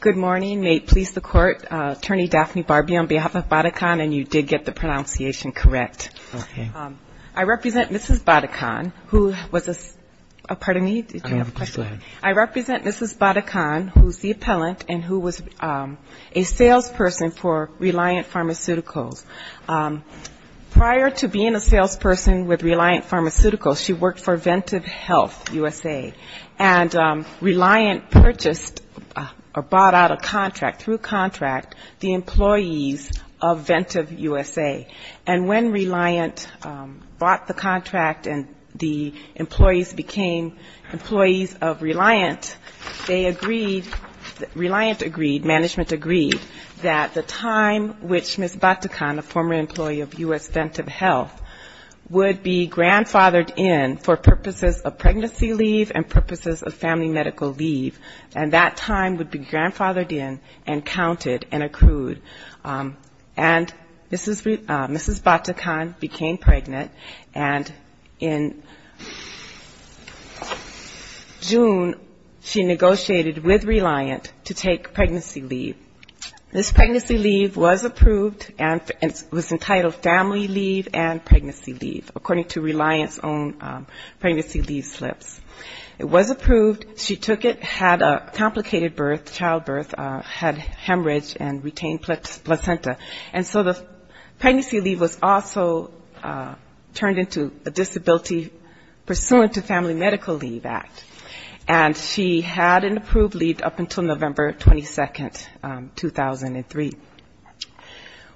Good morning. May it please the Court, Attorney Daphne Barbee, on behalf of Vatican, and you did get the pronunciation correct. I represent Mrs. Batican, who is the appellant and who was a salesperson for Reliant Pharmaceuticals. Prior to being a salesperson with Reliant Pharmaceuticals, she worked for Ventive Health USA. And Reliant purchased or bought out a contract, through contract, the employees of Ventive USA. And when Reliant bought the contract and the employees became employees of Reliant, they agreed, Reliant agreed, management agreed, that the time which Ms. Batican, a former employee of U.S. Ventive Health, would be grandfathered in for purposes of pregnancy leave and purposes of family medical leave, and that time would be grandfathered in and counted and accrued. And Mrs. Batican became pregnant, and in June, she negotiated with Reliant to take pregnancy leave. This pregnancy leave was approved and was entitled family leave and pregnancy leave, according to Reliant's own pregnancy leave slips. It was approved. She took it, had a complicated birth, childbirth, had hemorrhage and retained placenta. And so the pregnancy leave was also turned into a disability pursuant to Family Medical Leave Act. And she had an approved leave up until November 22, 2003.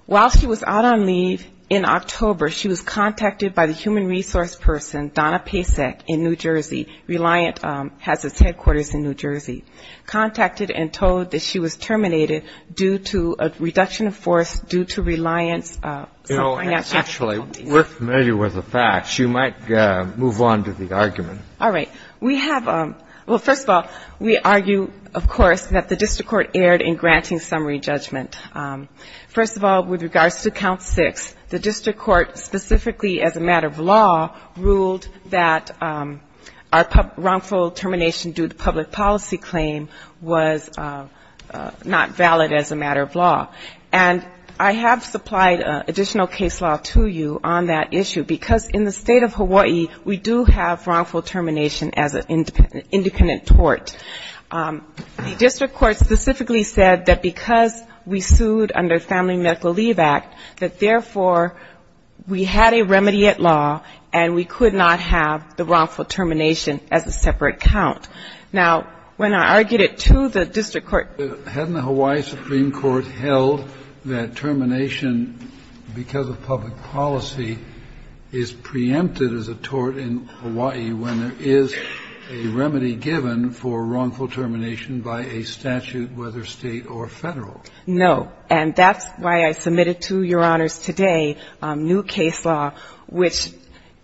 While she was out on leave in October, she was contacted by the human resource person, Donna Pacek, in New Jersey. Reliant has its headquarters in New Jersey. Contacted and told that she was terminated due to a reduction of force due to Reliant's financial Dr. Michael Smitherly. Actually, we're familiar with the facts. You might move on to the argument. All right. We have, well, first of all, we argue, of course, that the district court erred in granting summary judgment. First of all, with regards to count six, the district court specifically as a matter of law ruled that our wrongful termination due to public policy claim was not valid as a matter of law. And I have supplied additional case law to you on that issue, because in the state of Hawaii, we do have wrongful termination as an independent tort. The district court specifically said that because we sued under Family Medical Leave Act, that, therefore, we had a remedy at law, and we could not have the wrongful termination as a separate count. Now, when I argued it to the district court. Kennedy. Hadn't the Hawaii Supreme Court held that termination because of public policy is part of the family medical leave act? No. And that's why I submitted to Your Honors today new case law, which,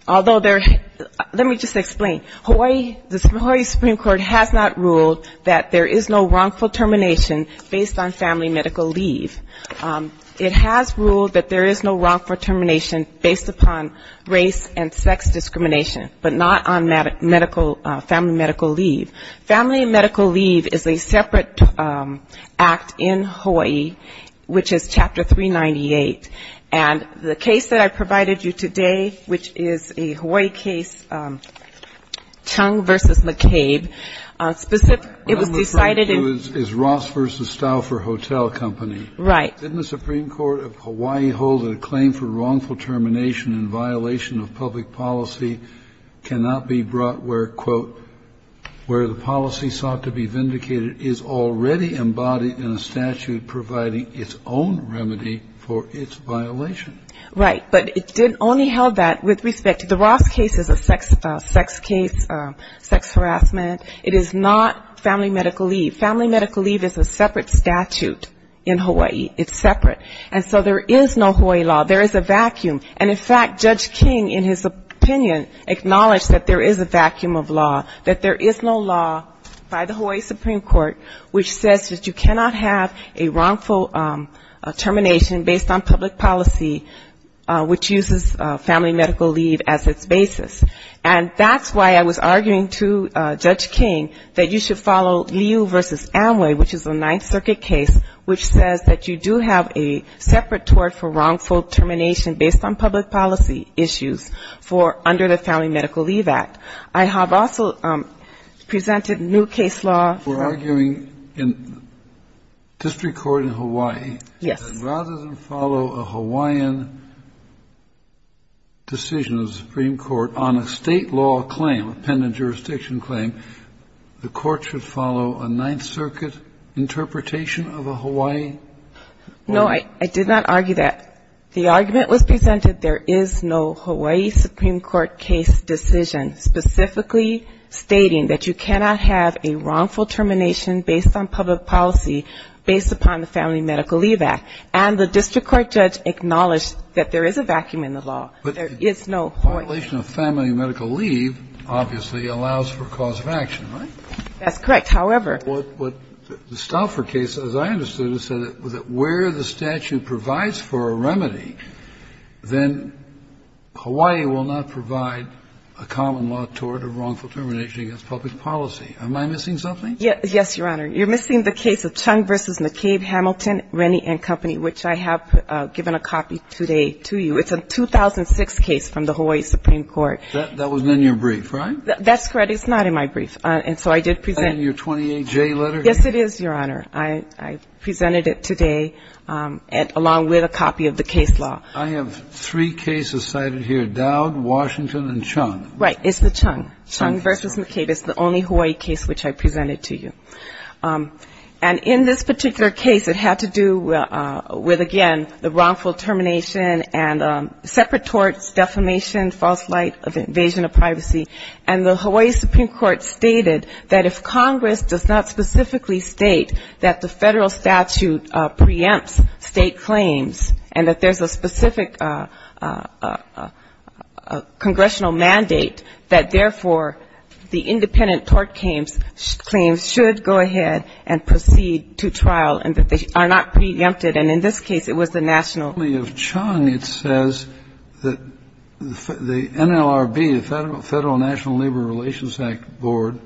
although there – let me just explain. Hawaii – the Hawaii Supreme Court has not ruled that there is no wrongful termination based on family medical leave. It has ruled that there is no wrongful termination based upon race and sex discrimination, but not on medical – family medical leave. Family medical leave is a separate act in Hawaii, which is Chapter 398. And the case that I provided you today, which is a Hawaii case, Chung v. McCabe, specific – it was decided in – didn't the Supreme Court of Hawaii hold that a claim for wrongful termination in violation of public policy cannot be brought where, quote, where the policy sought to be vindicated is already embodied in a statute providing its own remedy for its violation? Right. But it only held that with respect to the Ross case as a sex case, sex harassment. It is not family medical leave. Family medical leave is a separate statute in Hawaii. It's separate. And so there is no Hawaii law. There is a vacuum. And in fact, Judge King, in his opinion, acknowledged that there is a vacuum of law, that there is no law by the Hawaii Supreme Court which says that you cannot have a wrongful termination based on public policy, which uses family medical leave as its basis. And that's why I was arguing to Judge King that you should follow Liu v. Amway, which is a Ninth Circuit case, which says that you do have a separate tort for wrongful termination based on public policy issues for under the Family Medical Leave Act. I have also presented new case law for arguing in district court in Hawaii. Yes. Rather than follow a Hawaiian decision of the Supreme Court on a State law claim, a pendant jurisdiction claim, the court should follow a Ninth Circuit interpretation of a Hawaii law. No, I did not argue that. The argument was presented there is no Hawaii Supreme Court case decision specifically stating that you cannot have a wrongful termination based on public policy based upon the Family Medical Leave Act. And the district court judge acknowledged that there is a vacuum in the law. But the violation of family medical leave obviously allows for cause of action, right? That's correct. However the Stauffer case, as I understood it, said that where the statute provides for a remedy, then Hawaii will not provide a common law tort of wrongful termination against public policy. Am I missing something? Yes, Your Honor. You're missing the case of Chung v. McCabe, Hamilton, Rennie and Company, which I have given a copy today to you. It's a 2006 case from the Hawaii Supreme Court. That wasn't in your brief, right? That's correct. It's not in my brief. And so I did present it. Is that in your 28J letter? Yes, it is, Your Honor. I presented it today along with a copy of the case law. I have three cases cited here, Dowd, Washington and Chung. Right. It's the Chung. Chung v. McCabe. It's the only Hawaii case which I presented to you. And in this particular case, it had to do with, again, the wrongful termination and separate torts, defamation, false light of invasion of privacy. And the Hawaii Supreme Court stated that if Congress does not specifically state that the federal statute preempts state claims and that there's a specific congressional mandate, that, therefore, the independent tort claims should go ahead and proceed to trial and that they are not preempted. And in this case, it was the national court. And then it says that the NLRB, the Federal National Labor Relations Act Board,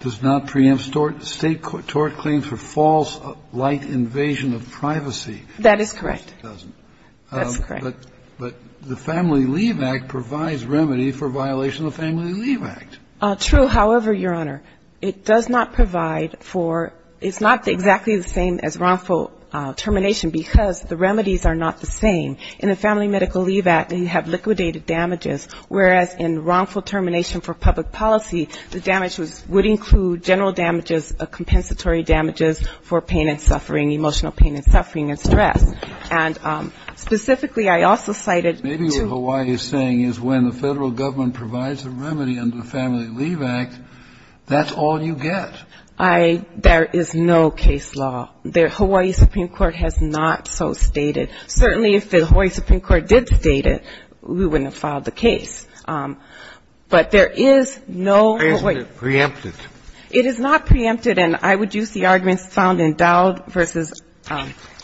does not preempt state tort claims for false light invasion of privacy. That is correct. It doesn't. That's correct. But the Family Leave Act provides remedy for violation of the Family Leave Act. True. However, Your Honor, it does not provide for – it's not exactly the same as wrongful termination because the remedies are not the same. In the Family Medical Leave Act, you have liquidated damages, whereas in wrongful termination for public policy, the damage would include general damages, compensatory damages for pain and suffering, emotional pain and suffering and stress. And specifically, I also cited to – Maybe what Hawaii is saying is when the federal government provides a remedy under the Family Leave Act, that's all you get. I – there is no case law. The Hawaii Supreme Court has not so stated. Certainly, if the Hawaii Supreme Court did state it, we wouldn't have filed the case. But there is no – Preemptive. Preemptive. It is not preemptive. And I would use the arguments found in Dowd v.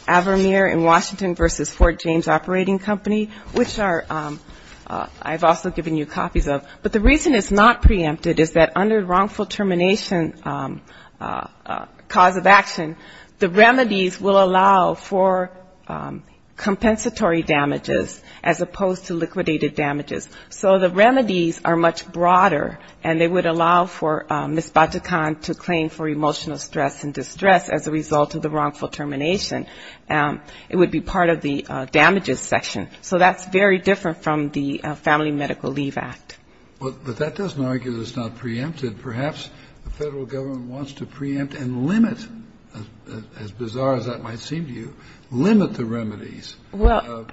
Avermeer in Washington v. Fort James Operating Company, which are – I've also given you copies of. But the reason it's not preemptive is that under wrongful termination cause of action, the remedies will allow for compensatory damages as opposed to liquidated damages. So the remedies are much broader, and they would allow for Ms. Bajikhan to claim for emotional stress and distress as a result of the wrongful termination. It would be part of the damages section. So that's very different from the Family Medical Leave Act. But that doesn't argue that it's not preemptive. Perhaps the federal government wants to preempt and limit – as bizarre as that might seem to you – limit the remedies. Well,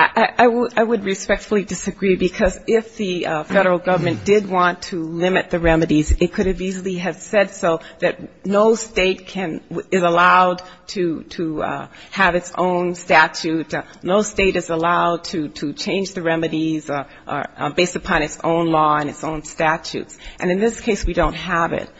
I would respectfully disagree, because if the federal government did want to limit the remedies, it could have easily have said so, that no state is allowed to have its own statute. No state is allowed to change the remedies based upon its own law and its own statutes. And in this case, we don't have it.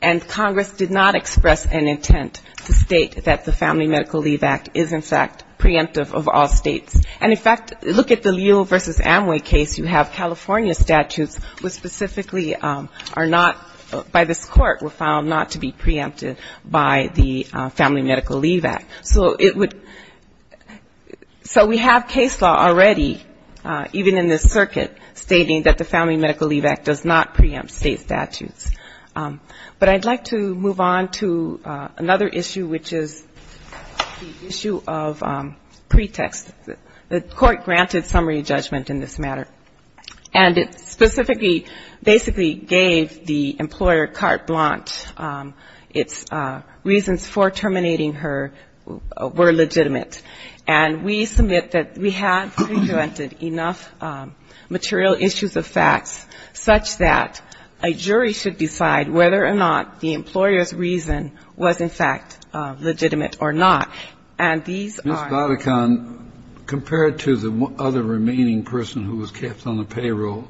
And Congress did not express an intent to state that the Family Medical Leave Act is, in fact, preemptive of all states. And, in fact, look at the Leo v. Amway case. You have California statutes which specifically are not – by this court were found not to be preemptive by the Family Medical Leave Act. So it would – so we have case law already, even in this circuit, stating that the Family Medical Leave Act does not preempt state statutes. But I'd like to move on to another issue, which is the issue of pretext. The court granted summary judgment in this matter. And it specifically – basically gave the employer carte blanche. Its reasons for terminating her were legitimate. And we submit that we have presented enough material issues of facts such that a jury should decide whether or not the employer's reason was, in fact, legitimate or not. And these are – Ms. Badecon, compared to the other remaining person who was kept on the payroll,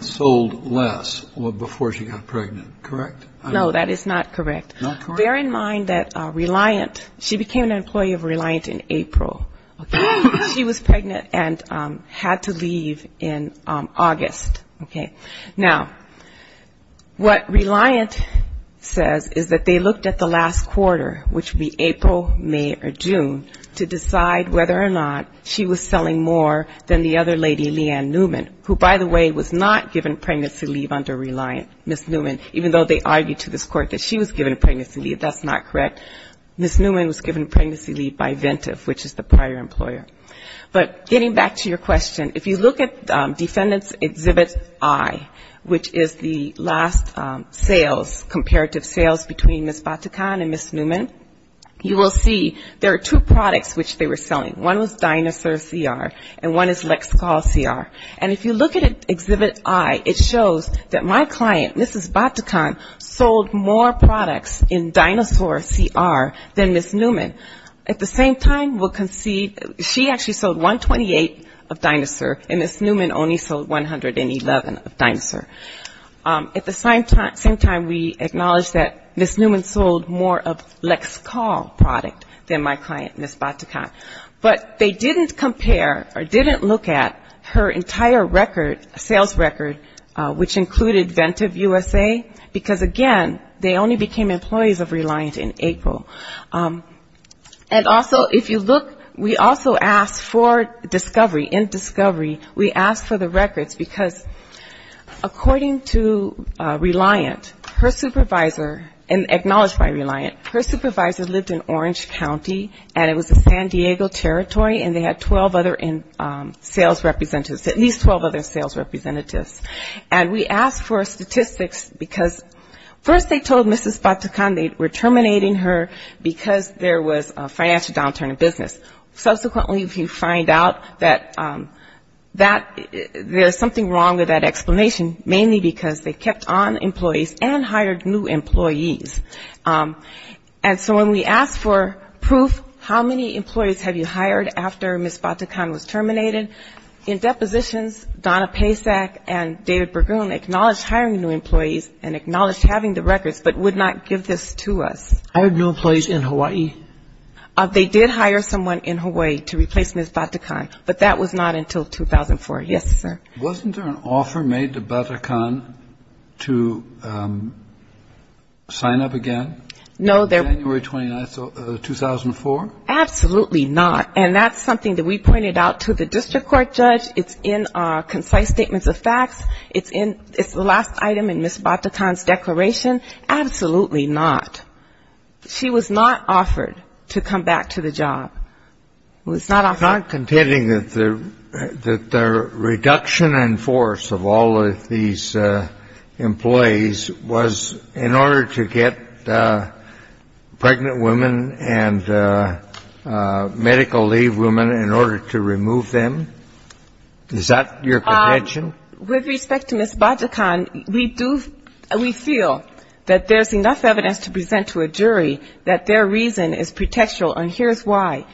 sold less before she got pregnant, correct? No, that is not correct. Not correct? Bear in mind that Reliant – she became an employee of Reliant in April, okay? She was pregnant and had to leave in August, okay? Now, what Reliant says is that they looked at the last quarter, which would be April, May, or June, to decide whether or not she was selling more than the other lady, Leanne Newman, who, by the way, was not given pregnancy leave under Reliant, Ms. Newman, even though they argued to this court that she was given pregnancy leave. That's not correct. Ms. Newman was given pregnancy leave by Ventive, which is the prior employer. But getting back to your question, if you look at Defendant's Exhibit I, which is the last sales, comparative sales between Ms. Badecon and Ms. Newman, you will see there are two products which they were selling. One was Dinosaur CR, and one is Lexical CR. And if you look at Exhibit I, it shows that my client, Mrs. Badecon, sold more products in Dinosaur CR than Ms. Newman. At the same time, we'll concede, she actually sold 128 of Dinosaur, and Ms. Newman only sold 111 of Dinosaur. At the same time, we acknowledge that Ms. Newman sold more of Lexical product than my client, Ms. Badecon. But they didn't compare or didn't look at her entire record, sales record, which included Ventive USA, because, again, they only became employees of Reliant in April. And also, if you look, we also asked for discovery, in discovery, we asked for the records, because according to Reliant, her supervisor, and acknowledged by Reliant, her supervisor lived in Orange County, and it was a San Diego territory, and they had 12 other sales representatives, at least 12 other sales representatives. And we asked for statistics, because first they told Mrs. Badecon they were terminating her, because there was a financial downturn in business. Subsequently, if you find out that there's something wrong with that explanation, mainly because they kept on employees and hired new employees. And so when we asked for proof, how many employees have you hired after Ms. Badecon was terminated, in depositions, Donna Pacek and David Berggruen acknowledged hiring new employees and acknowledged having the records, but would not give this to us. Hired new employees in Hawaii? They did hire someone in Hawaii to replace Ms. Badecon, but that was not until 2004. Yes, sir. Wasn't there an offer made to Badecon to sign up again? No, there was not. January 29, 2004? Absolutely not, and that's something that we pointed out to the district court judge. It's in our concise statements of facts. It's the last item in Ms. Badecon's declaration. Absolutely not. She was not offered to come back to the job. It was not offered. You're not contending that the reduction in force of all of these employees was in order to get pregnant women and medical leave women in order to remove them? Is that your contention? With respect to Ms. Badecon, we do, we feel that there's enough evidence to present to a jury that their reason is pretextual, and here's why.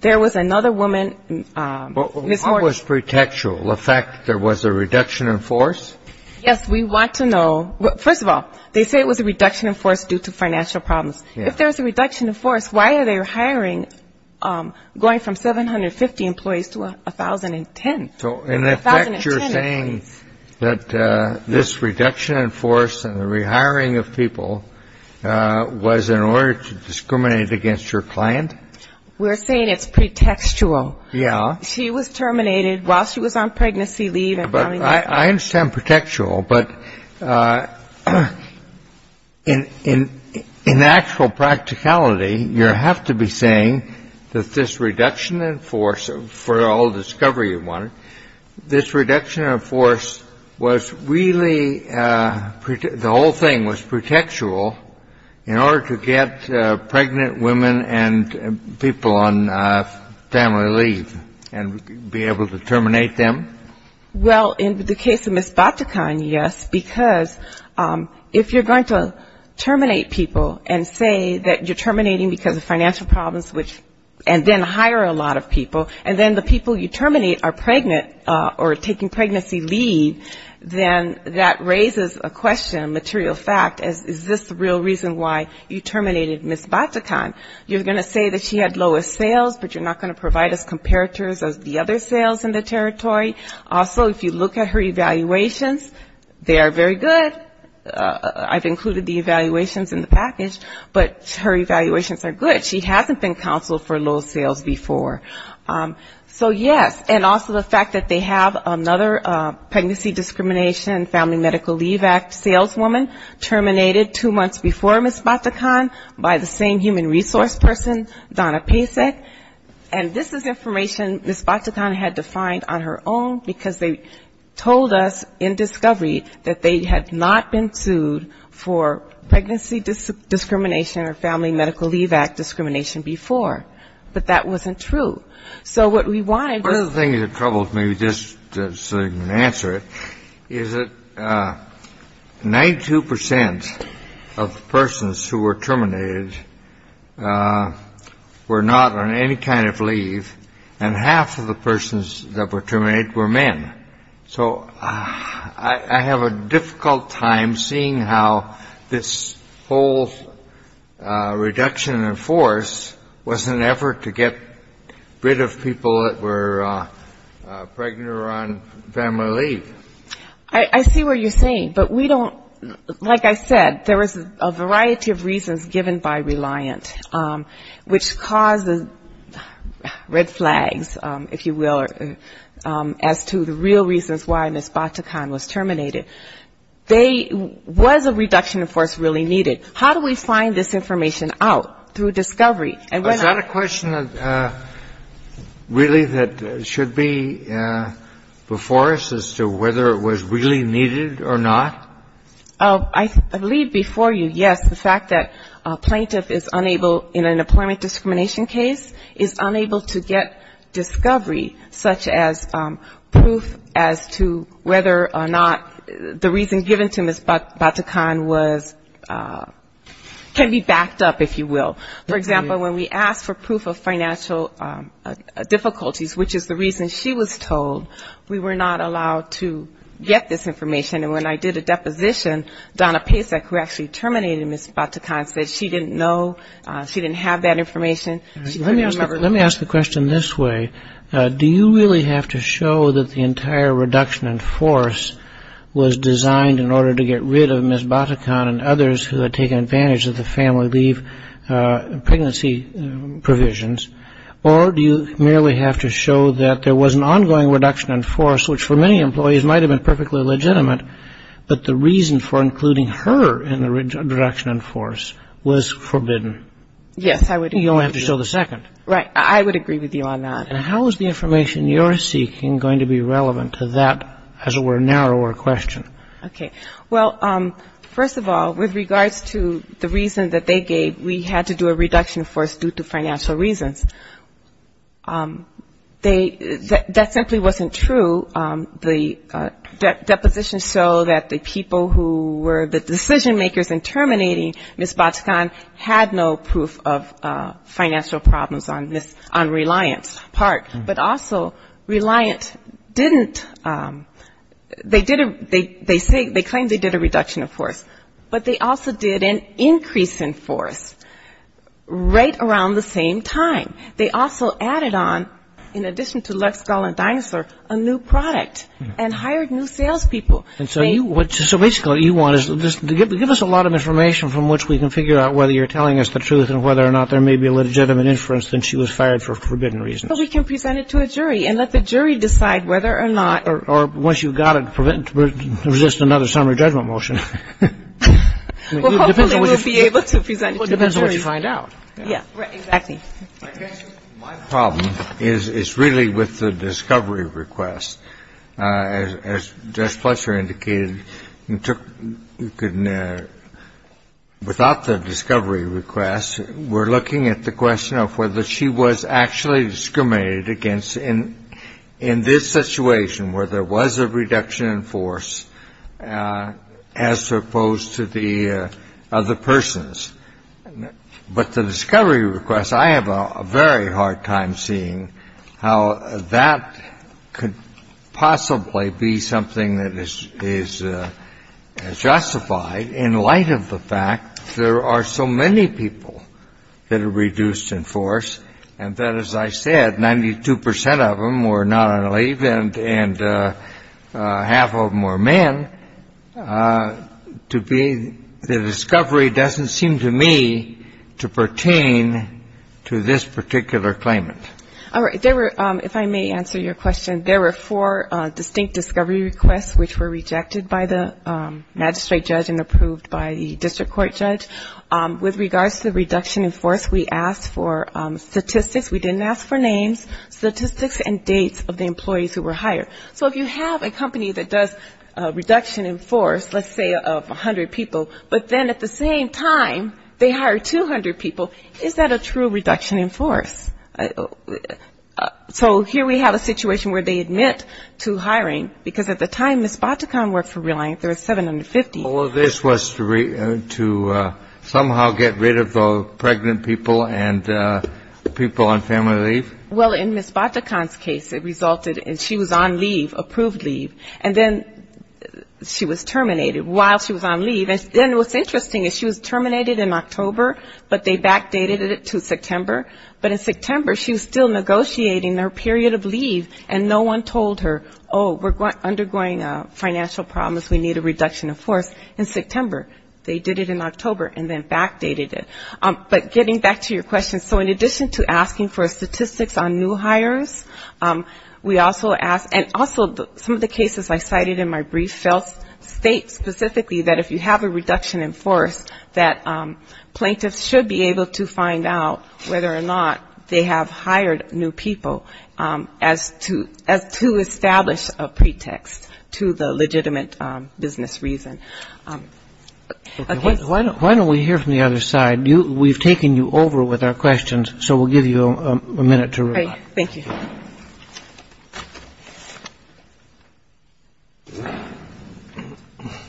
There was another woman, Ms. Horton. What was pretextual? The fact that there was a reduction in force? Yes, we want to know. First of all, they say it was a reduction in force due to financial problems. If there was a reduction in force, why are they hiring, going from 750 employees to 1,010? In effect, you're saying that this reduction in force and the rehiring of people was in order to discriminate against your client? We're saying it's pretextual. Yeah. She was terminated while she was on pregnancy leave. I understand pretextual, but in actual practicality, you have to be saying that this reduction in force, for all the discovery you wanted, this reduction in force was really, the whole thing was pretextual, in order to get pregnant women and people on family leave and be able to terminate them? Well, in the case of Ms. Batikhan, yes, because if you're going to terminate people and say that you're terminating because of financial problems and then hire a lot of people, and then the people you terminate are pregnant or taking pregnancy leave, then that raises a question, a material fact, is this the right thing to do? Is this the real reason why you terminated Ms. Batikhan? You're going to say that she had lowest sales, but you're not going to provide us comparators of the other sales in the territory. Also, if you look at her evaluations, they are very good. I've included the evaluations in the package, but her evaluations are good. She hasn't been counseled for low sales before. So, yes, and also the fact that they have another pregnancy discrimination and family medical leave act saleswoman terminated two months before Ms. Batikhan by the same human resource person, Donna Pacek, and this is information Ms. Batikhan had to find on her own, because they told us in discovery that they had not been sued for pregnancy discrimination or family medical leave act discrimination before, but that wasn't true. So what we wanted was... One of the things that troubles me, just so you can answer it, is that 92% of persons who were terminated were not on any kind of leave, and half of the persons that were terminated were men. So I have a difficult time seeing how this whole thing works. Reduction in force was an effort to get rid of people that were pregnant or on family leave. I see where you're saying, but we don't, like I said, there was a variety of reasons given by Reliant, which caused red flags, if you will, as to the real reasons why Ms. Batikhan was terminated. There was a reduction in force really needed. How do we find this information out, through discovery? Is that a question that really should be before us, as to whether it was really needed or not? I believe before you, yes, the fact that a plaintiff is unable, in an employment discrimination case, is unable to get discovery, such as proof as to whether or not the reason given to Ms. Batikhan was, can be backed up, if you will. For example, when we asked for proof of financial difficulties, which is the reason she was told, we were not allowed to get this information, and when I did a deposition, Donna Pasek, who actually terminated Ms. Batikhan, said she didn't know, she didn't have that information, she couldn't remember. Let me ask the question this way. Do you really have to show that the entire reduction in force was designed in order to get rid of Ms. Batikhan and others who had taken advantage of the family leave pregnancy provisions, or do you merely have to show that there was an ongoing reduction in force, which for many employees might have been perfectly legitimate, but the reason for including her in the reduction in force was forbidden? Yes, I would agree with you. You only have to show the second. Right. I would agree with you on that. And how is the information you're seeking going to be relevant to that, as it were, narrower question? Okay. Well, first of all, with regards to the reason that they gave, we had to do a reduction in force due to financial reasons. That simply wasn't true. The deposition showed that the people who were the decision makers in terminating Ms. Batikhan had no proof of financial problems on Reliant's part. But also, Reliant didn't, they did a reduction in force, but they didn't do a reduction in force. They claimed they did a reduction in force, but they also did an increase in force right around the same time. They also added on, in addition to Lexgal and Dinosaur, a new product and hired new salespeople. So basically what you want is just to give us a lot of information from which we can figure out whether you're telling us the truth and whether or not there may be a legitimate inference that she was fired for forbidden reasons. Well, we can present it to a jury and let the jury decide whether or not. Well, that's just another summary judgment motion. Well, hopefully we'll be able to present it to the jury. It depends on what you find out. Yeah, exactly. My problem is really with the discovery request. As Judge Fletcher indicated, without the discovery request, we're looking at the question of whether she was actually discriminated against in this situation where there was a reduction in force. As opposed to the other persons. But the discovery request, I have a very hard time seeing how that could possibly be something that is justified in light of the fact there are so many people that are reduced in force and that, as I said, 92 percent of them were not on leave and half of them were men. The discovery doesn't seem to me to pertain to this particular claimant. All right. There were, if I may answer your question, there were four distinct discovery requests which were rejected by the magistrate judge and approved by the district court judge. With regards to the reduction in force, we asked for statistics. We didn't ask for names, statistics and dates of the employees who were hired. So if you have a company that does reduction in force, let's say of 100 people, but then at the same time they hire 200 people, is that a true reduction in force? So here we have a situation where they admit to hiring, because at the time Ms. Batacan worked for Reliant, there was 750. All of this was to somehow get rid of the pregnant people and people on family leave? Well, in Ms. Batacan's case it resulted in she was on leave, approved leave, and then she was terminated while she was on leave. And then what's interesting is she was terminated in October, but they backdated it to September, but in September she was still negotiating her period of leave and no one told her, oh, we're undergoing financial problems, we need a reduction in force in September. They did it in October and then backdated it. But getting back to your question, so in addition to asking for statistics on new hires, we also asked, and also some of the cases I cited in my brief state specifically that if you have a reduction in force, that plaintiffs should be able to find out whether or not they have hired new people as to establish a pretext to the legitimate business reason. Okay, why don't we hear from the other side? We've taken you over with our questions, so we'll give you a minute to reply.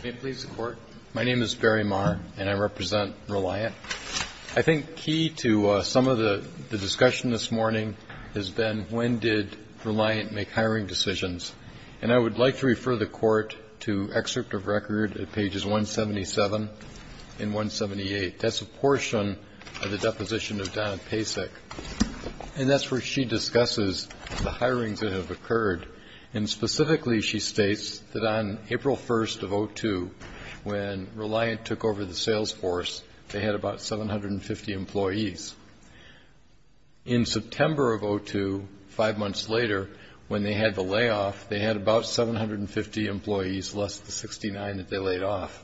May it please the Court? My name is Barry Marr and I represent Reliant. I think key to some of the discussion this morning has been when did Reliant make hiring decisions? And I would like to refer the Court to excerpt of record at pages 177 and 178. That's a portion of the deposition of Donna Pacek, and that's where she discusses the hirings that have occurred. And specifically she states that on April 1st of 2002, when Reliant took over the sales force, they had a breakdown of the number of employees, about 750 employees. In September of 2002, five months later, when they had the layoff, they had about 750 employees, less the 69 that they laid off.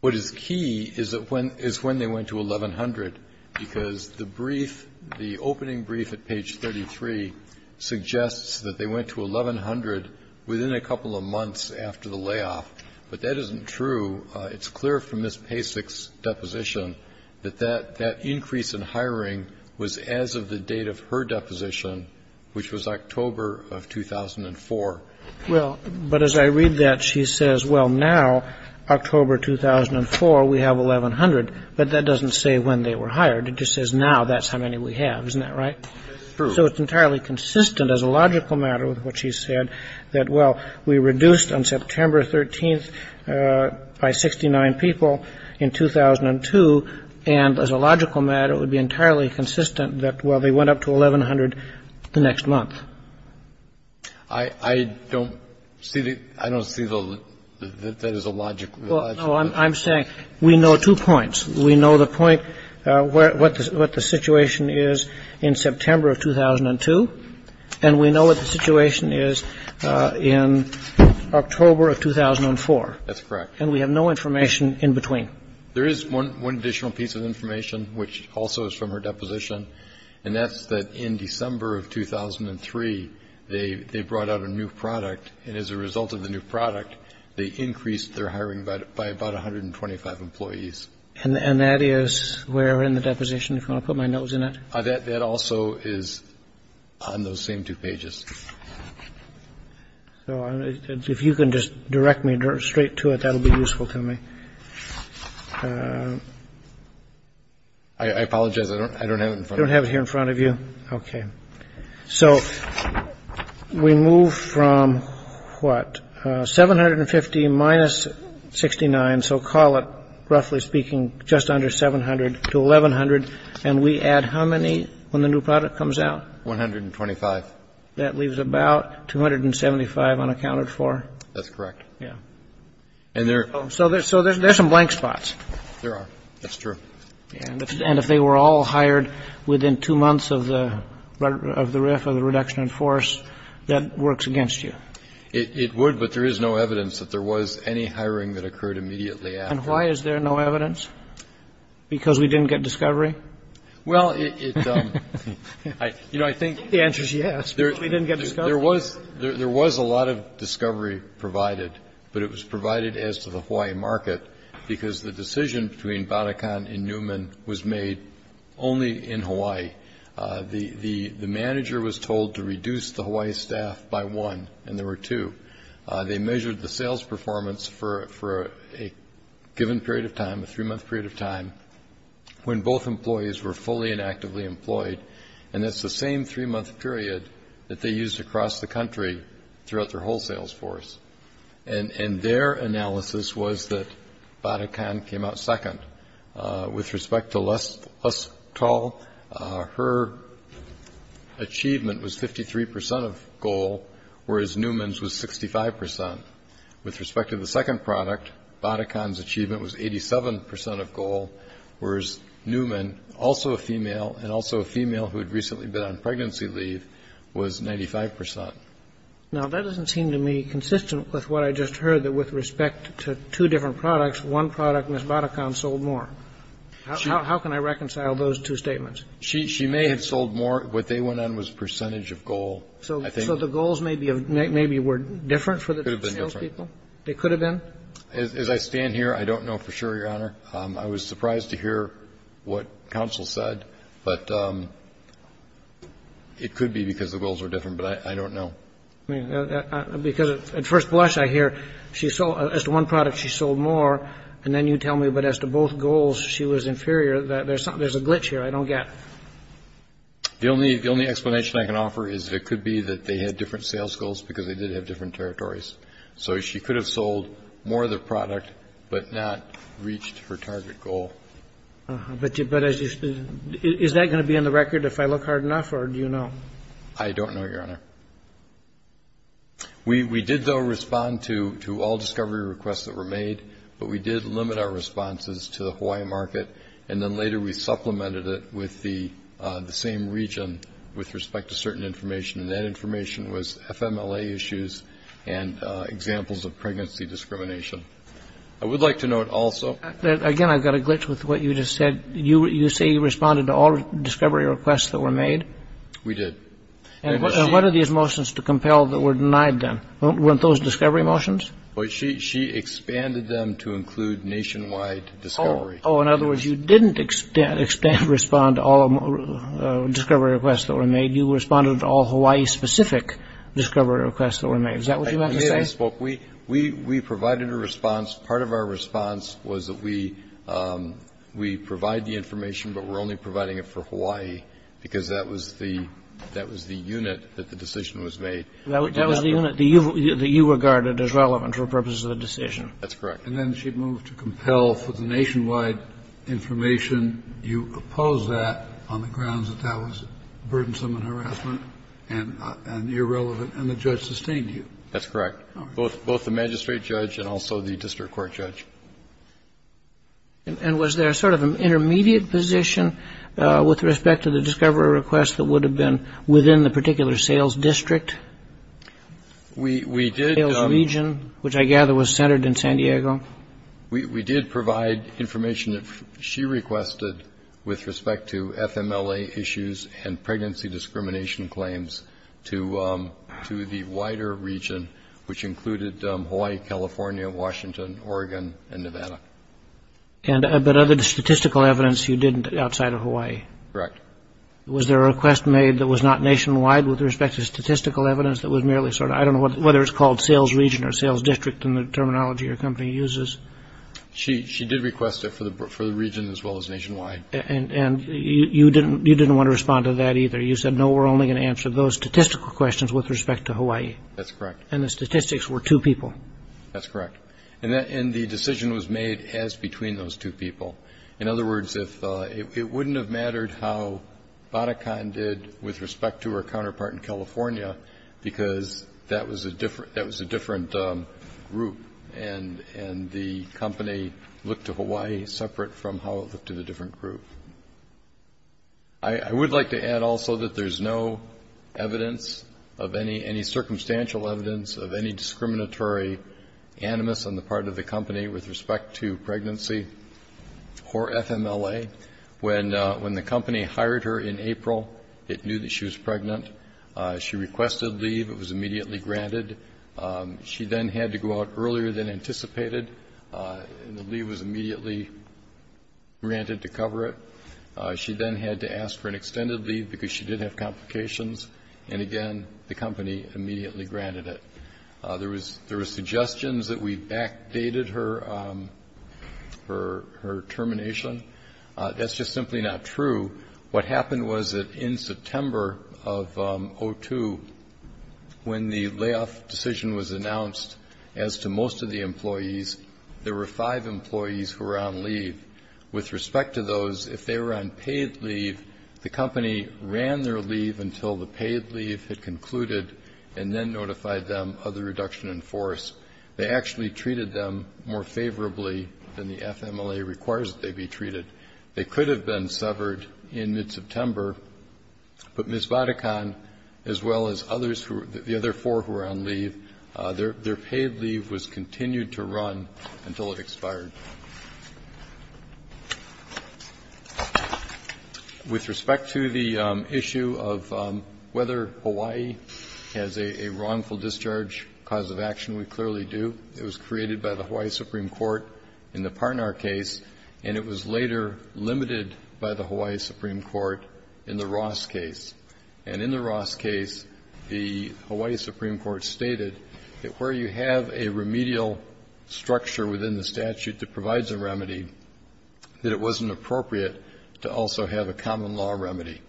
What is key is when they went to 1,100, because the brief, the opening brief at page 33, suggests that they went to 1,100 within a couple of months after the layoff, but that isn't true. It's clear from Ms. Pacek's deposition that that increase in hiring was as of the date of her deposition, which was October of 2004. Well, but as I read that, she says, well, now, October 2004, we have 1,100, but that doesn't say when they were hired. It just says now that's how many we have. So it's entirely consistent, as a logical matter, with what she said, that, well, we reduced on September 13th by 69 people in 2002, and as a logical matter, it would be entirely consistent that, well, they went up to 1,100 the next month. I don't see the, I don't see the, that is a logical, logical. Well, no, I'm saying we know two points. We know that they were hired in September of 2002, and we know what the situation is in October of 2004. That's correct. And we have no information in between. There is one additional piece of information, which also is from her deposition, and that's that in December of 2003, they brought out a new product, and as a result of the new product, they increased their hiring by about 125 employees. And that is where in the deposition, if I put my nose in it, that that also is on those same two pages. So if you can just direct me straight to it, that'll be useful to me. I apologize. I don't have it here in front of you. OK, so we move from what, 750 minus 69. So call it, roughly speaking, just under 700 to 1,100, and we add how many when the new product comes out? 125. That leaves about 275 unaccounted for. That's correct. Yeah. So there's some blank spots. There are. That's true. And if they were all hired within two months of the RIF, of the reduction in force, that works against you? It would, but there is no evidence that there was any hiring that occurred immediately after. And why is there no evidence? Because we didn't get discovery? Well, it, you know, I think the answer is yes, but we didn't get discovery. There was a lot of discovery provided, but it was provided as to the Hawaii market, because the decision between Bannekan and Newman was made only in Hawaii. The manager was told to reduce the Hawaii staff by one, and there were two. They measured the sales performance for a given period of time, a three-month period of time, when both employees were fully and actively employed, and that's the same three-month period that they used across the country throughout their whole sales force. And their analysis was that Bannekan came out second. With respect to Lesthal, her achievement was 53 percent of goal, whereas Newman's was 65 percent. With respect to the second product, Bannekan's achievement was 87 percent of goal, whereas Newman, also a female and also a female who had recently been on pregnancy leave, was 95 percent. Now, that doesn't seem to me consistent with what I just heard, that with respect to two different products, one product, Ms. Bannekan, sold more. How can I reconcile those two statements? She may have sold more. What they went on was percentage of goal. So the goals maybe were different for the two salespeople? Could have been different. They could have been? As I stand here, I don't know for sure, Your Honor. I was surprised to hear what counsel said, but it could be because the goals were different, but I don't know. Because at first blush, I hear, as to one product, she sold more, and then you tell me, but as to both goals, she was inferior. There's a glitch here I don't get. The only explanation I can offer is that it could be that they had different sales goals because they did have different territories. So she could have sold more of the product, but not reached her target goal. But is that going to be on the record if I look hard enough, or do you know? I don't know, Your Honor. We did, though, respond to all discovery requests that were made, but we did limit our responses to the Hawaii market, and then later we supplemented it with the same region with respect to certain information, and that information was FMLA issues and examples of pregnancy discrimination. I would like to note also... Again, I've got a glitch with what you just said. You say you responded to all discovery requests that were made? We did. And what are these motions to compel that were denied then? Weren't those discovery motions? She expanded them to include nationwide discovery. Oh, in other words, you didn't respond to all discovery requests that were made. You responded to all Hawaii-specific discovery requests that were made. Is that what you meant to say? We provided a response. Part of our response was that we provide the information, but we're only providing it for Hawaii because that was the unit that the decision was made. That was the unit that you regarded as relevant for purposes of the decision. That's correct. And then she moved to compel for the nationwide information. You opposed that on the grounds that that was burdensome and harassment and irrelevant, and the judge sustained you. That's correct. Both the magistrate judge and also the district court judge. And was there sort of an intermediate position with respect to the discovery request that would have been within the particular sales district? We did... Which I gather was centered in San Diego. We did provide information that she requested with respect to FMLA issues and pregnancy discrimination claims to the wider region, which included Hawaii, California, Washington, Oregon, and Nevada. But other than statistical evidence, you didn't outside of Hawaii. Correct. Was there a request made that was not nationwide with respect to statistical evidence that was merely sort of, I don't know whether it's called sales region or sales district in the terminology your company uses? She did request it for the region as well as nationwide. And you didn't want to respond to that either. You said, no, we're only going to answer those statistical questions with respect to Hawaii. That's correct. And the statistics were two people. That's correct. And the decision was made as between those two people. In other words, it wouldn't have mattered how Batakan did with respect to her counterpart in California because that was a different group and the company looked to Hawaii separate from how it looked to the different group. I would like to add also that there's no evidence of any circumstantial evidence of any discriminatory animus on the part of the company with respect to pregnancy or FMLA. When the company hired her in April, it knew that she was pregnant. She requested leave. It was immediately granted. She then had to go out earlier than anticipated and the leave was immediately granted to cover it. She then had to ask for an extended leave because she did have complications. And again, the company immediately granted it. There were suggestions that we backdated her termination. That's just simply not true. What happened was that in September of 2002, when the layoff decision was announced as to most of the employees, there were five employees who were on leave. With respect to those, if they were on paid leave, the company ran their leave until the paid leave had concluded and then notified them of the reduction in force. They actually treated them more favorably than the FMLA requires that they be treated. They could have been severed in mid-September, but Ms. Vatican, as well as the other four who were on leave, their paid leave was continued to run until it expired. With respect to the issue of whether Hawaii has a wrongful discharge cause of action, we clearly do. It was created by the Hawaii Supreme Court in the Parnar case, and it was later limited by the Hawaii Supreme Court in the Ross case. And in the Ross case, the Hawaii Supreme Court stated that where you have a remedial structure within the statute that provides a remedy, that it wasn't appropriate to also have a common law remedy.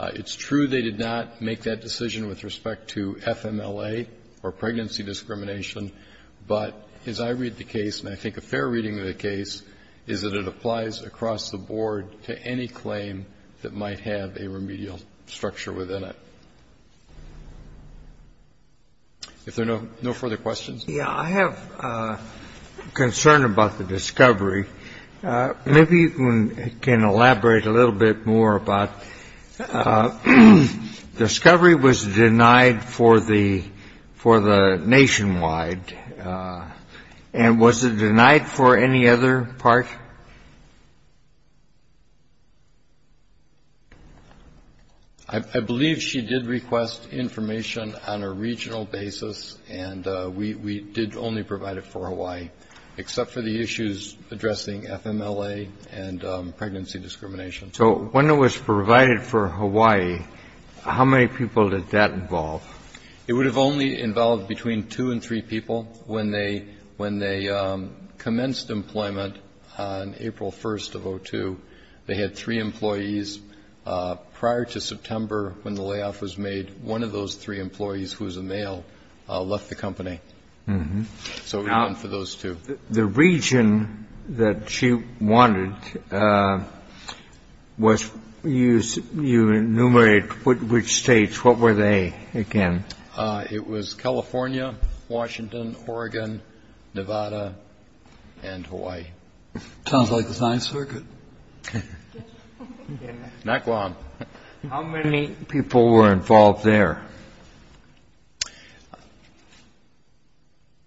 It's true they did not make that decision with respect to FMLA or pregnancy discrimination, but as I read the case, and I think a fair reading of the case, is that it applies across the board to any claim that might have a remedial structure within it. If there are no further questions. Yeah, I have a concern about the discovery. Maybe you can elaborate a little bit more about discovery was denied for the nationwide, and was it denied for any other part? I believe she did request information on a regional basis, and we did only provide it for Hawaii, except for the issues addressing FMLA and pregnancy discrimination. So when it was provided for Hawaii, how many people did that involve? It would have only involved between two and three people. When they commenced employment on April 1st of 2002, they had three employees. Prior to September, when the layoff was made, one of those three employees, who was a male, left the company. So it was done for those two. The region that she wanted, you enumerated which states. What were they again? It was California, Washington, Oregon, Nevada, and Hawaii. Sounds like the Ninth Circuit. How many people were involved there?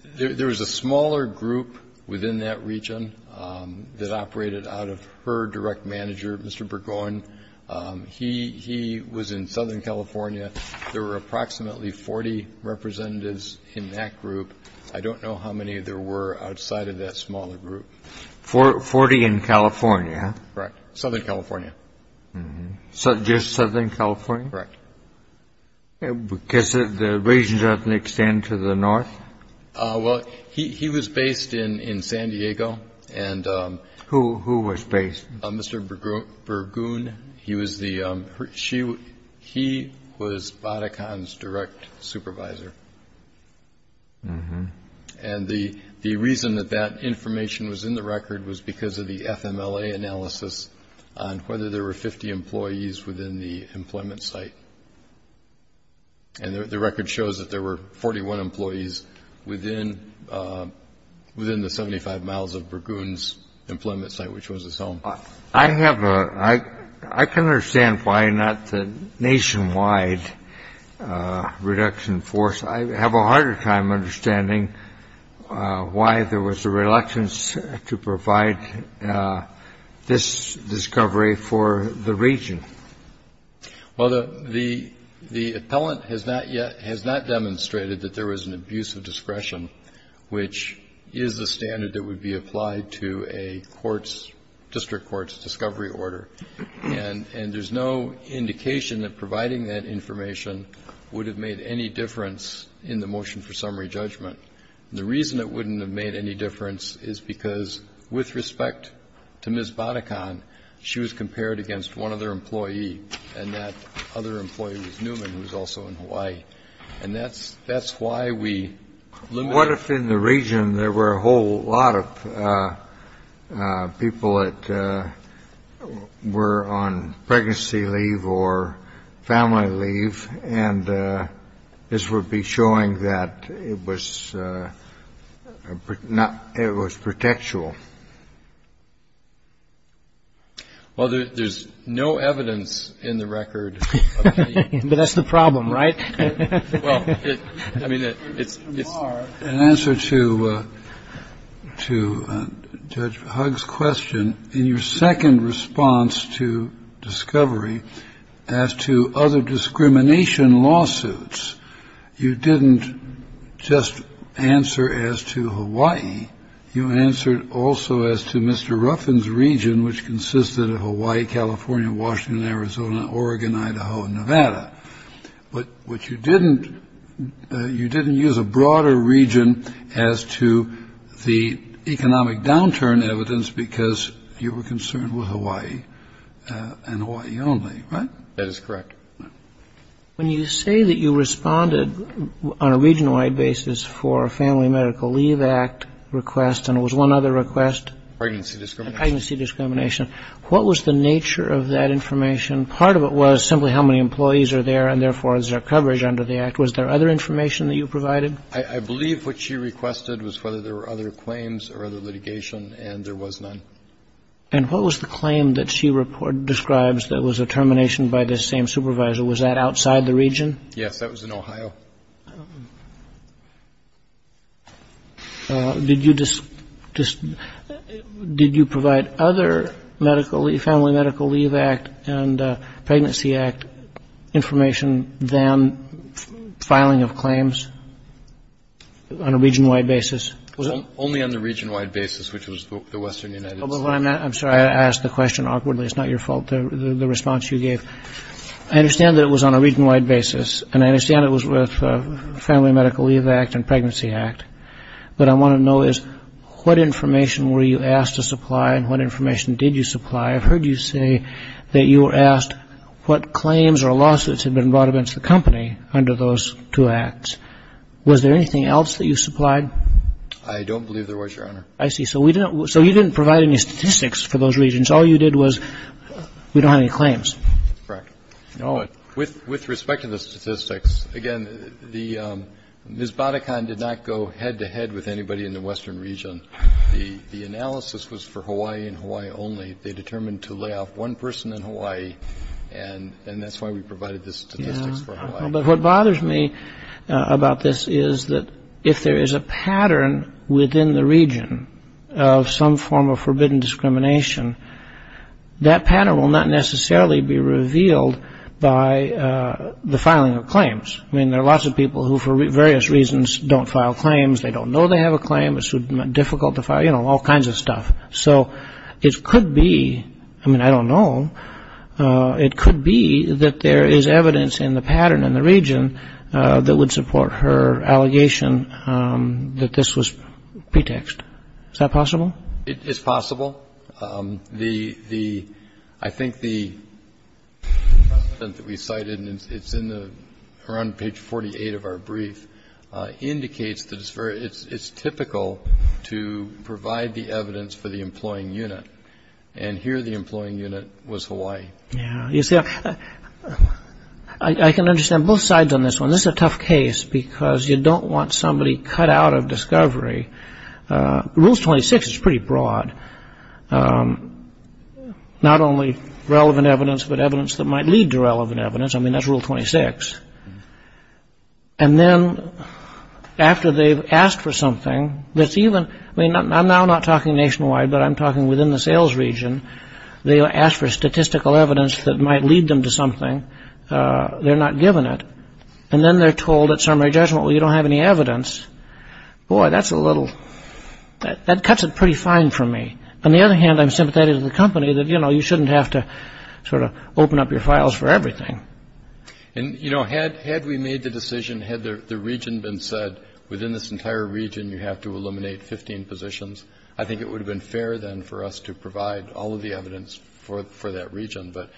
There was a smaller group within that region that operated out of her direct manager, Mr. Burgoyne. He was in Southern California. There were approximately 40 representatives in that group. I don't know how many there were outside of that smaller group. Forty in California? Correct. Southern California. Just Southern California? Correct. Because the region doesn't extend to the north? Well, he was based in San Diego. Who was based? Mr. Burgoyne. He was Batacan's direct supervisor. And the reason that that information was in the record was because of the FMLA analysis on whether there were 50 employees within the employment site. And the record shows that there were 41 employees within the 75 miles of Burgoyne's employment site, which was his home. I can understand why not the nationwide reduction force. I have a harder time understanding why there was a reluctance to provide this discovery for the region. Well, the appellant has not demonstrated that there was an abuse of discretion, which is the standard that would be applied to a district court's discovery order. And there's no indication that providing that information would have made any difference in the motion for summary judgment. The reason it wouldn't have made any difference is because with respect to Ms. Batacan, she was compared against one other employee, and that other employee was Newman, who was also in Hawaii. And that's why we limited it. What if in the region there were a whole lot of people that were on pregnancy leave or family leave, and this would be showing that it was not, it was protectual? Well, there's no evidence in the record. But that's the problem, right? Well, I mean, it's... In answer to Judge Hugg's question, in your second response to discovery, as to other discrimination lawsuits, you didn't just answer as to Hawaii. You answered also as to Mr. Ruffin's region, which consisted of Hawaii, California, Washington, Arizona, Oregon, Idaho, and Nevada. But what you didn't, you didn't use a broader region as to the economic downturn evidence because you were concerned with Hawaii and Hawaii only, right? That is correct. When you say that you responded on a region-wide basis for a Family Medical Leave Act request, and it was one other request? Pregnancy discrimination. Pregnancy discrimination. What was the nature of that information? Part of it was simply how many employees are there, and therefore is there coverage under the Act. Was there other information that you provided? I believe what she requested was whether there were other claims or other litigation, and there was none. And what was the claim that she describes that was a termination by the same supervisor? Was that outside the region? Yes, that was in Ohio. Did you provide other Family Medical Leave Act and Pregnancy Act information than filing of claims on a region-wide basis? Only on the region-wide basis, which was the Western United States. I'm sorry, I asked the question awkwardly. It's not your fault, the response you gave. I understand that it was on a region-wide basis, and I understand it was with Family Medical Leave Act and Pregnancy Act, but I want to know is what information were you asked to supply and what information did you supply? I've heard you say that you were asked what claims or lawsuits had been brought against the company under those two Acts. Was there anything else that you supplied? I don't believe there was, Your Honor. I see. So you didn't provide any statistics for those regions. All you did was, we don't have any claims. Correct. With respect to the statistics, again, Ms. Badakhan did not go head-to-head with anybody in the Western region. The analysis was for Hawaii and Hawaii only. They determined to lay off one person in Hawaii, and that's why we provided the statistics for Hawaii. But what bothers me about this is that if there is a pattern within the region of some form of forbidden discrimination, that pattern will not necessarily be revealed by the filing of claims. I mean, there are lots of people who, for various reasons, don't file claims. They don't know they have a claim. It's difficult to file, you know, all kinds of stuff. So it could be, I mean, I don't know, it could be that there is evidence in the pattern in the region that would support her allegation that this was pretext. Is that possible? It's possible. I think the precedent that we cited, and it's around page 48 of our brief, indicates that it's typical to provide the evidence for the employing unit. And here the employing unit was Hawaii. Yeah, you see, I can understand both sides on this one. This is a tough case because you don't want somebody cut out of discovery. Rule 26 is pretty broad. Not only relevant evidence, but evidence that might lead to relevant evidence. I mean, that's Rule 26. And then after they've asked for something that's even, I mean, I'm now not talking nationwide, but I'm talking within the sales region. They ask for statistical evidence that might lead them to something. They're not given it. And then they're told at summary judgment, well, you don't have any evidence. Boy, that's a little, that cuts it pretty fine for me. On the other hand, I'm sympathetic to the company that, you know, you shouldn't have to sort of open up your files for everything. And, you know, had we made the decision, had the region been said, within this entire region you have to eliminate 15 positions, I think it would have been fair then for us to provide all of the evidence for that region. But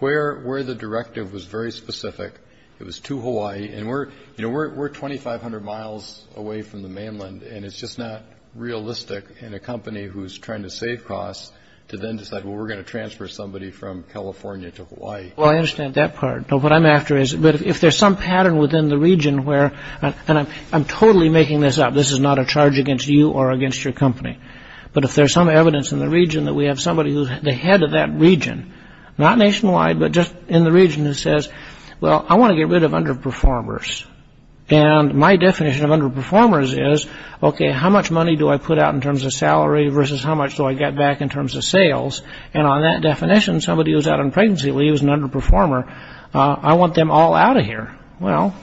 where the directive was very specific, it was to Hawaii. And we're, you know, we're 2,500 miles away from the mainland. And it's just not realistic in a company who's trying to save costs to then decide, well, we're going to transfer somebody from California to Hawaii. Well, I understand that part. What I'm after is, but if there's some pattern within the region where, and I'm totally making this up, this is not a charge against you or against your company. But if there's some evidence in the region that we have somebody who's the head of that region, not nationwide, but just in the region, who says, well, I want to get rid of underperformers. And my definition of underperformers is, okay, how much money do I put out in terms of salary versus how much do I get back in terms of sales? And on that definition, somebody who's out on pregnancy leave is an underperformer. I want them all out of here. Well,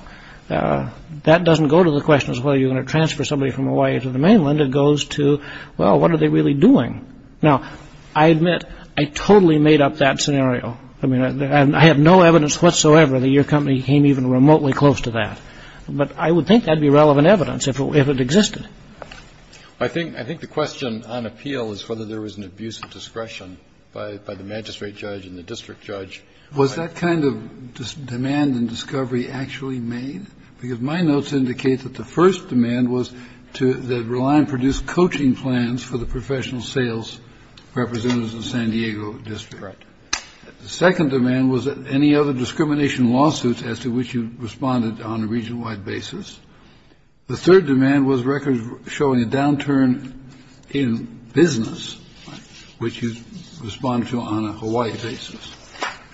that doesn't go to the question of whether you're going to transfer somebody from Hawaii to the mainland. It goes to, well, what are they really doing? Now, I admit I totally made up that scenario. I have no evidence whatsoever that your company came even remotely close to that. But I would think that would be relevant evidence if it existed. I think the question on appeal is whether there was an abuse of discretion by the magistrate judge and the district judge. Was that kind of demand and discovery actually made? Because my notes indicate that the first demand was to rely on produced coaching plans for the professional sales representatives in San Diego district. The second demand was that any other discrimination lawsuits as to which you responded on a region wide basis. The third demand was records showing a downturn in business, which you respond to on a Hawaii basis.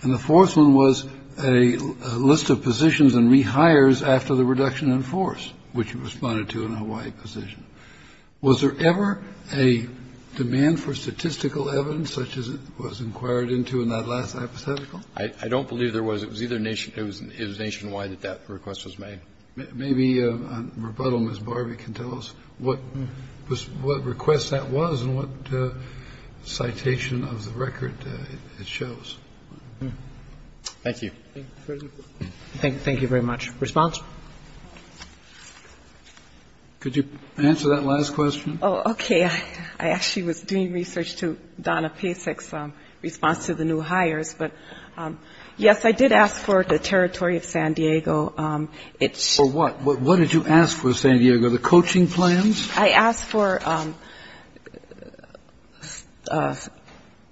And the fourth one was a list of positions and rehires after the reduction in force, which you responded to in a Hawaii position. Was there ever a demand for statistical evidence such as it was inquired into in that last hypothetical? I don't believe there was. It was either nation. It was nationwide that that request was made. Maybe rebuttal Miss Barbie can tell us what was what request that was and what citation of the record shows. Thank you. Thank you. Thank you very much. Response. Could you answer that last question? Oh, OK. I actually was doing research to Donna Pasek's response to the new hires. But yes, I did ask for the territory of San Diego. It's for what? What did you ask for? San Diego, the coaching plans. I asked for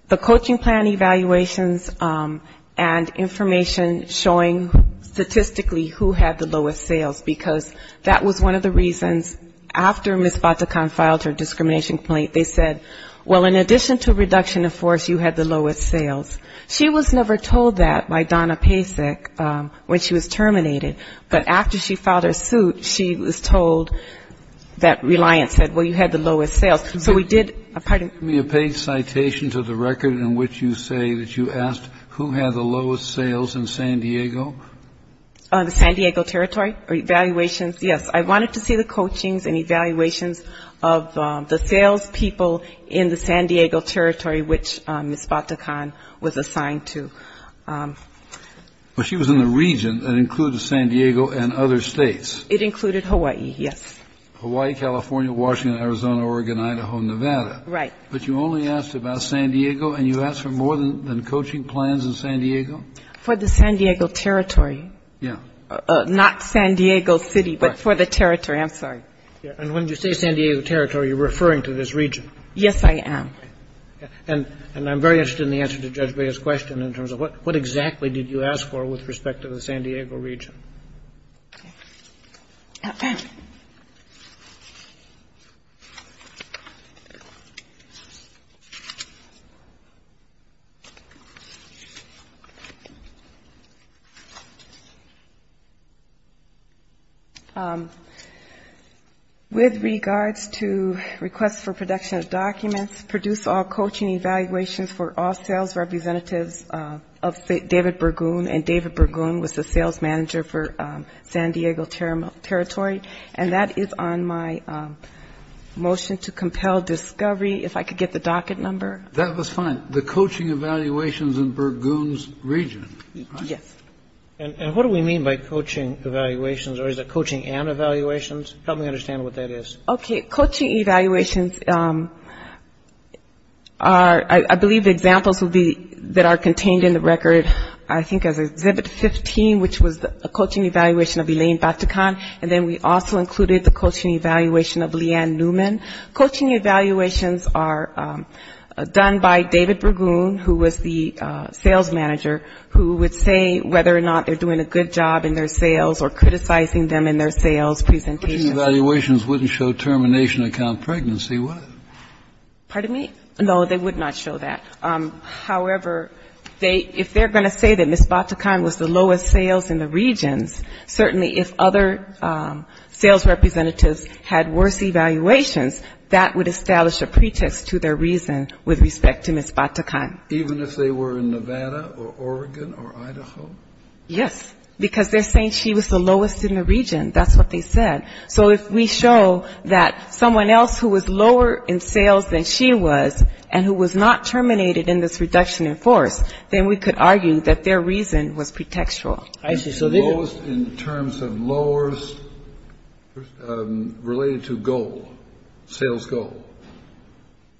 the coaching plan evaluations and information showing statistically who had the lowest sales, because that was one of the reasons after Miss Bata can filed her discrimination complaint. They said, well, in addition to reduction of force, you had the lowest sales. She was never told that by Donna Pasek when she was terminated. But after she filed her suit, she was told that Reliant said, well, you had the lowest sales. So we did a pardon me, a paid citation to the record in which you say that you asked who had the lowest sales in San Diego. On the San Diego territory or evaluations. Yes. I wanted to see the coachings and evaluations of the sales people in the San Diego territory, which Miss Bata Khan was assigned to. But she was in the region that included San Diego and other states. It included Hawaii. Yes. Hawaii, California, Washington, Arizona, Oregon, Idaho, Nevada. Right. But you only asked about San Diego and you asked for more than coaching plans in San Diego? For the San Diego territory. Yeah. Not San Diego City, but for the territory. I'm sorry. And when you say San Diego territory, you're referring to this region. Yes, I am. And I'm very interested in the answer to Judge Breyer's question in terms of what exactly did you ask for with respect to the San Diego region? With regards to requests for production of documents, produce all coaching evaluations for all sales representatives of David Bergun. And David Bergun was the sales manager for San Diego territory. And that is on my motion to compel discovery, if I could get the docket number. That was fine. The coaching evaluations in Bergun's region. Yes. And what do we mean by coaching evaluations? Or is it coaching and evaluations? Help me understand what that is. Okay. Coaching evaluations are, I believe, examples that are contained in the record, I think, as Exhibit 15, which was a coaching evaluation of Elaine Batucan. And then we also included the coaching evaluation of Leanne Newman. Coaching evaluations are done by David Bergun, who was the sales manager, who would say whether or not they're doing a good job in their sales or criticizing them in their sales presentation. Coaching evaluations wouldn't show termination account pregnancy, would it? Pardon me? No, they would not show that. However, if they're going to say that Ms. Batucan was the lowest sales in the regions, certainly if other sales representatives had worse evaluations, that would establish a pretext to their reason with respect to Ms. Batucan. Even if they were in Nevada or Oregon or Idaho? Yes, because they're saying she was the lowest in the region. That's what they said. So if we show that someone else who was lower in sales than she was and who was not terminated in this reduction in force, then we could argue that their reason was pretextual. So lowest in terms of lowers related to goal, sales goal.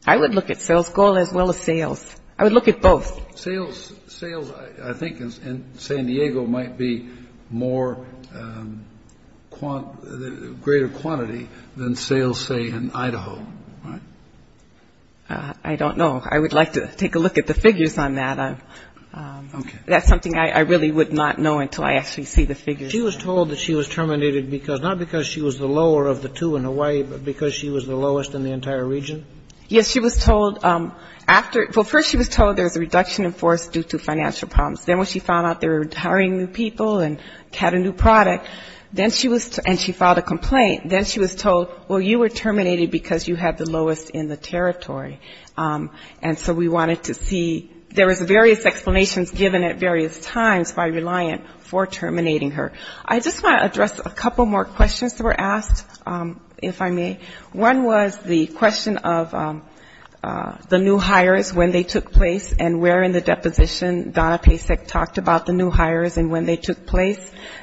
I would look at sales goal as well as sales. I would look at both. Sales, I think, in San Diego might be more greater quantity than sales, say, in Idaho. I don't know. I would like to take a look at the figures on that. Okay. That's something I really would not know until I actually see the figures. She was told that she was terminated because, not because she was the lower of the two in Hawaii, but because she was the lowest in the entire region? Yes, she was told after, well, first she was told there was a reduction in force due to financial problems. Then when she found out they were hiring new people and had a new product, then she was, and she filed a complaint. Then she was told, well, you were terminated because you had the lowest in the territory. And so we wanted to see, there was various explanations given at various times by Reliant for terminating her. I just want to address a couple more questions that were asked, if I may. One was the question of the new hires, when they took place, and where in the deposition. Donna Pasek talked about the new hires and when they took place.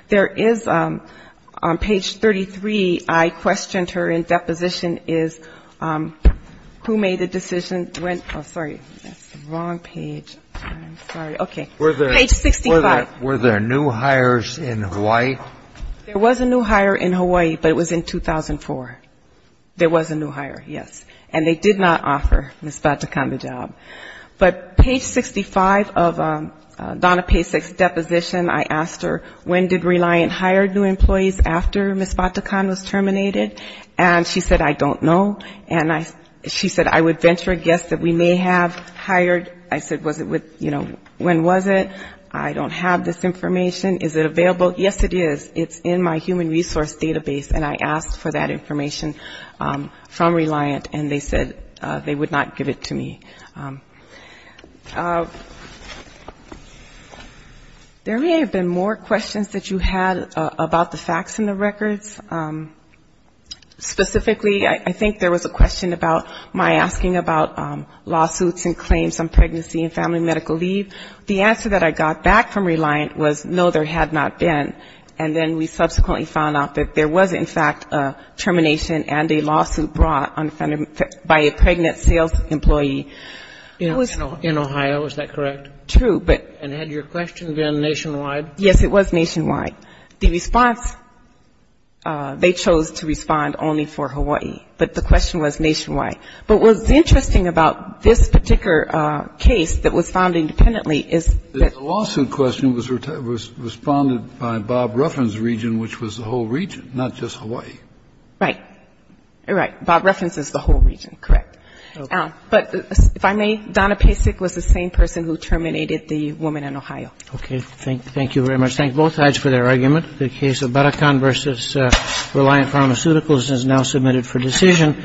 There is, on page 33, I questioned her in deposition is who made the decision, when, oh, sorry, that's the wrong page. I'm sorry. Okay. Page 65. Were there new hires in Hawaii? There was a new hire in Hawaii, but it was in 2004. There was a new hire, yes. And they did not offer Ms. Batacan, the job. But page 65 of Donna Pasek's deposition, I asked her, when did Reliant hire new employees after Ms. Batacan was terminated? And she said, I don't know. And she said, I would venture a guess that we may have hired, I said, was it with, you know, when was it? I don't have this information. Is it available? Yes, it is. It's in my human resource database. And I asked for that information from Reliant, and they said they would not give it to me. There may have been more questions that you had about the facts in the records. Specifically, I think there was a question about my asking about lawsuits and claims on pregnancy and family medical leave. The answer that I got back from Reliant was, no, there had not been. And then we subsequently found out that there was, in fact, a termination and a lawsuit brought by a pregnant sales employee. In Ohio, is that correct? True. And had your question been nationwide? Yes, it was nationwide. The response, they chose to respond only for Hawaii. But the question was nationwide. But what's interesting about this particular case that was found independently is that the lawsuit question was responded by Bob Ruffin's region, which was the whole region, not just Hawaii. Right. Right. Bob Ruffin's is the whole region. Correct. Okay. But if I may, Donna Pasek was the same person who terminated the woman in Ohio. Okay. Thank you very much. Thank both sides for their argument. The case of Barakan v. Reliant Pharmaceuticals is now submitted for decision.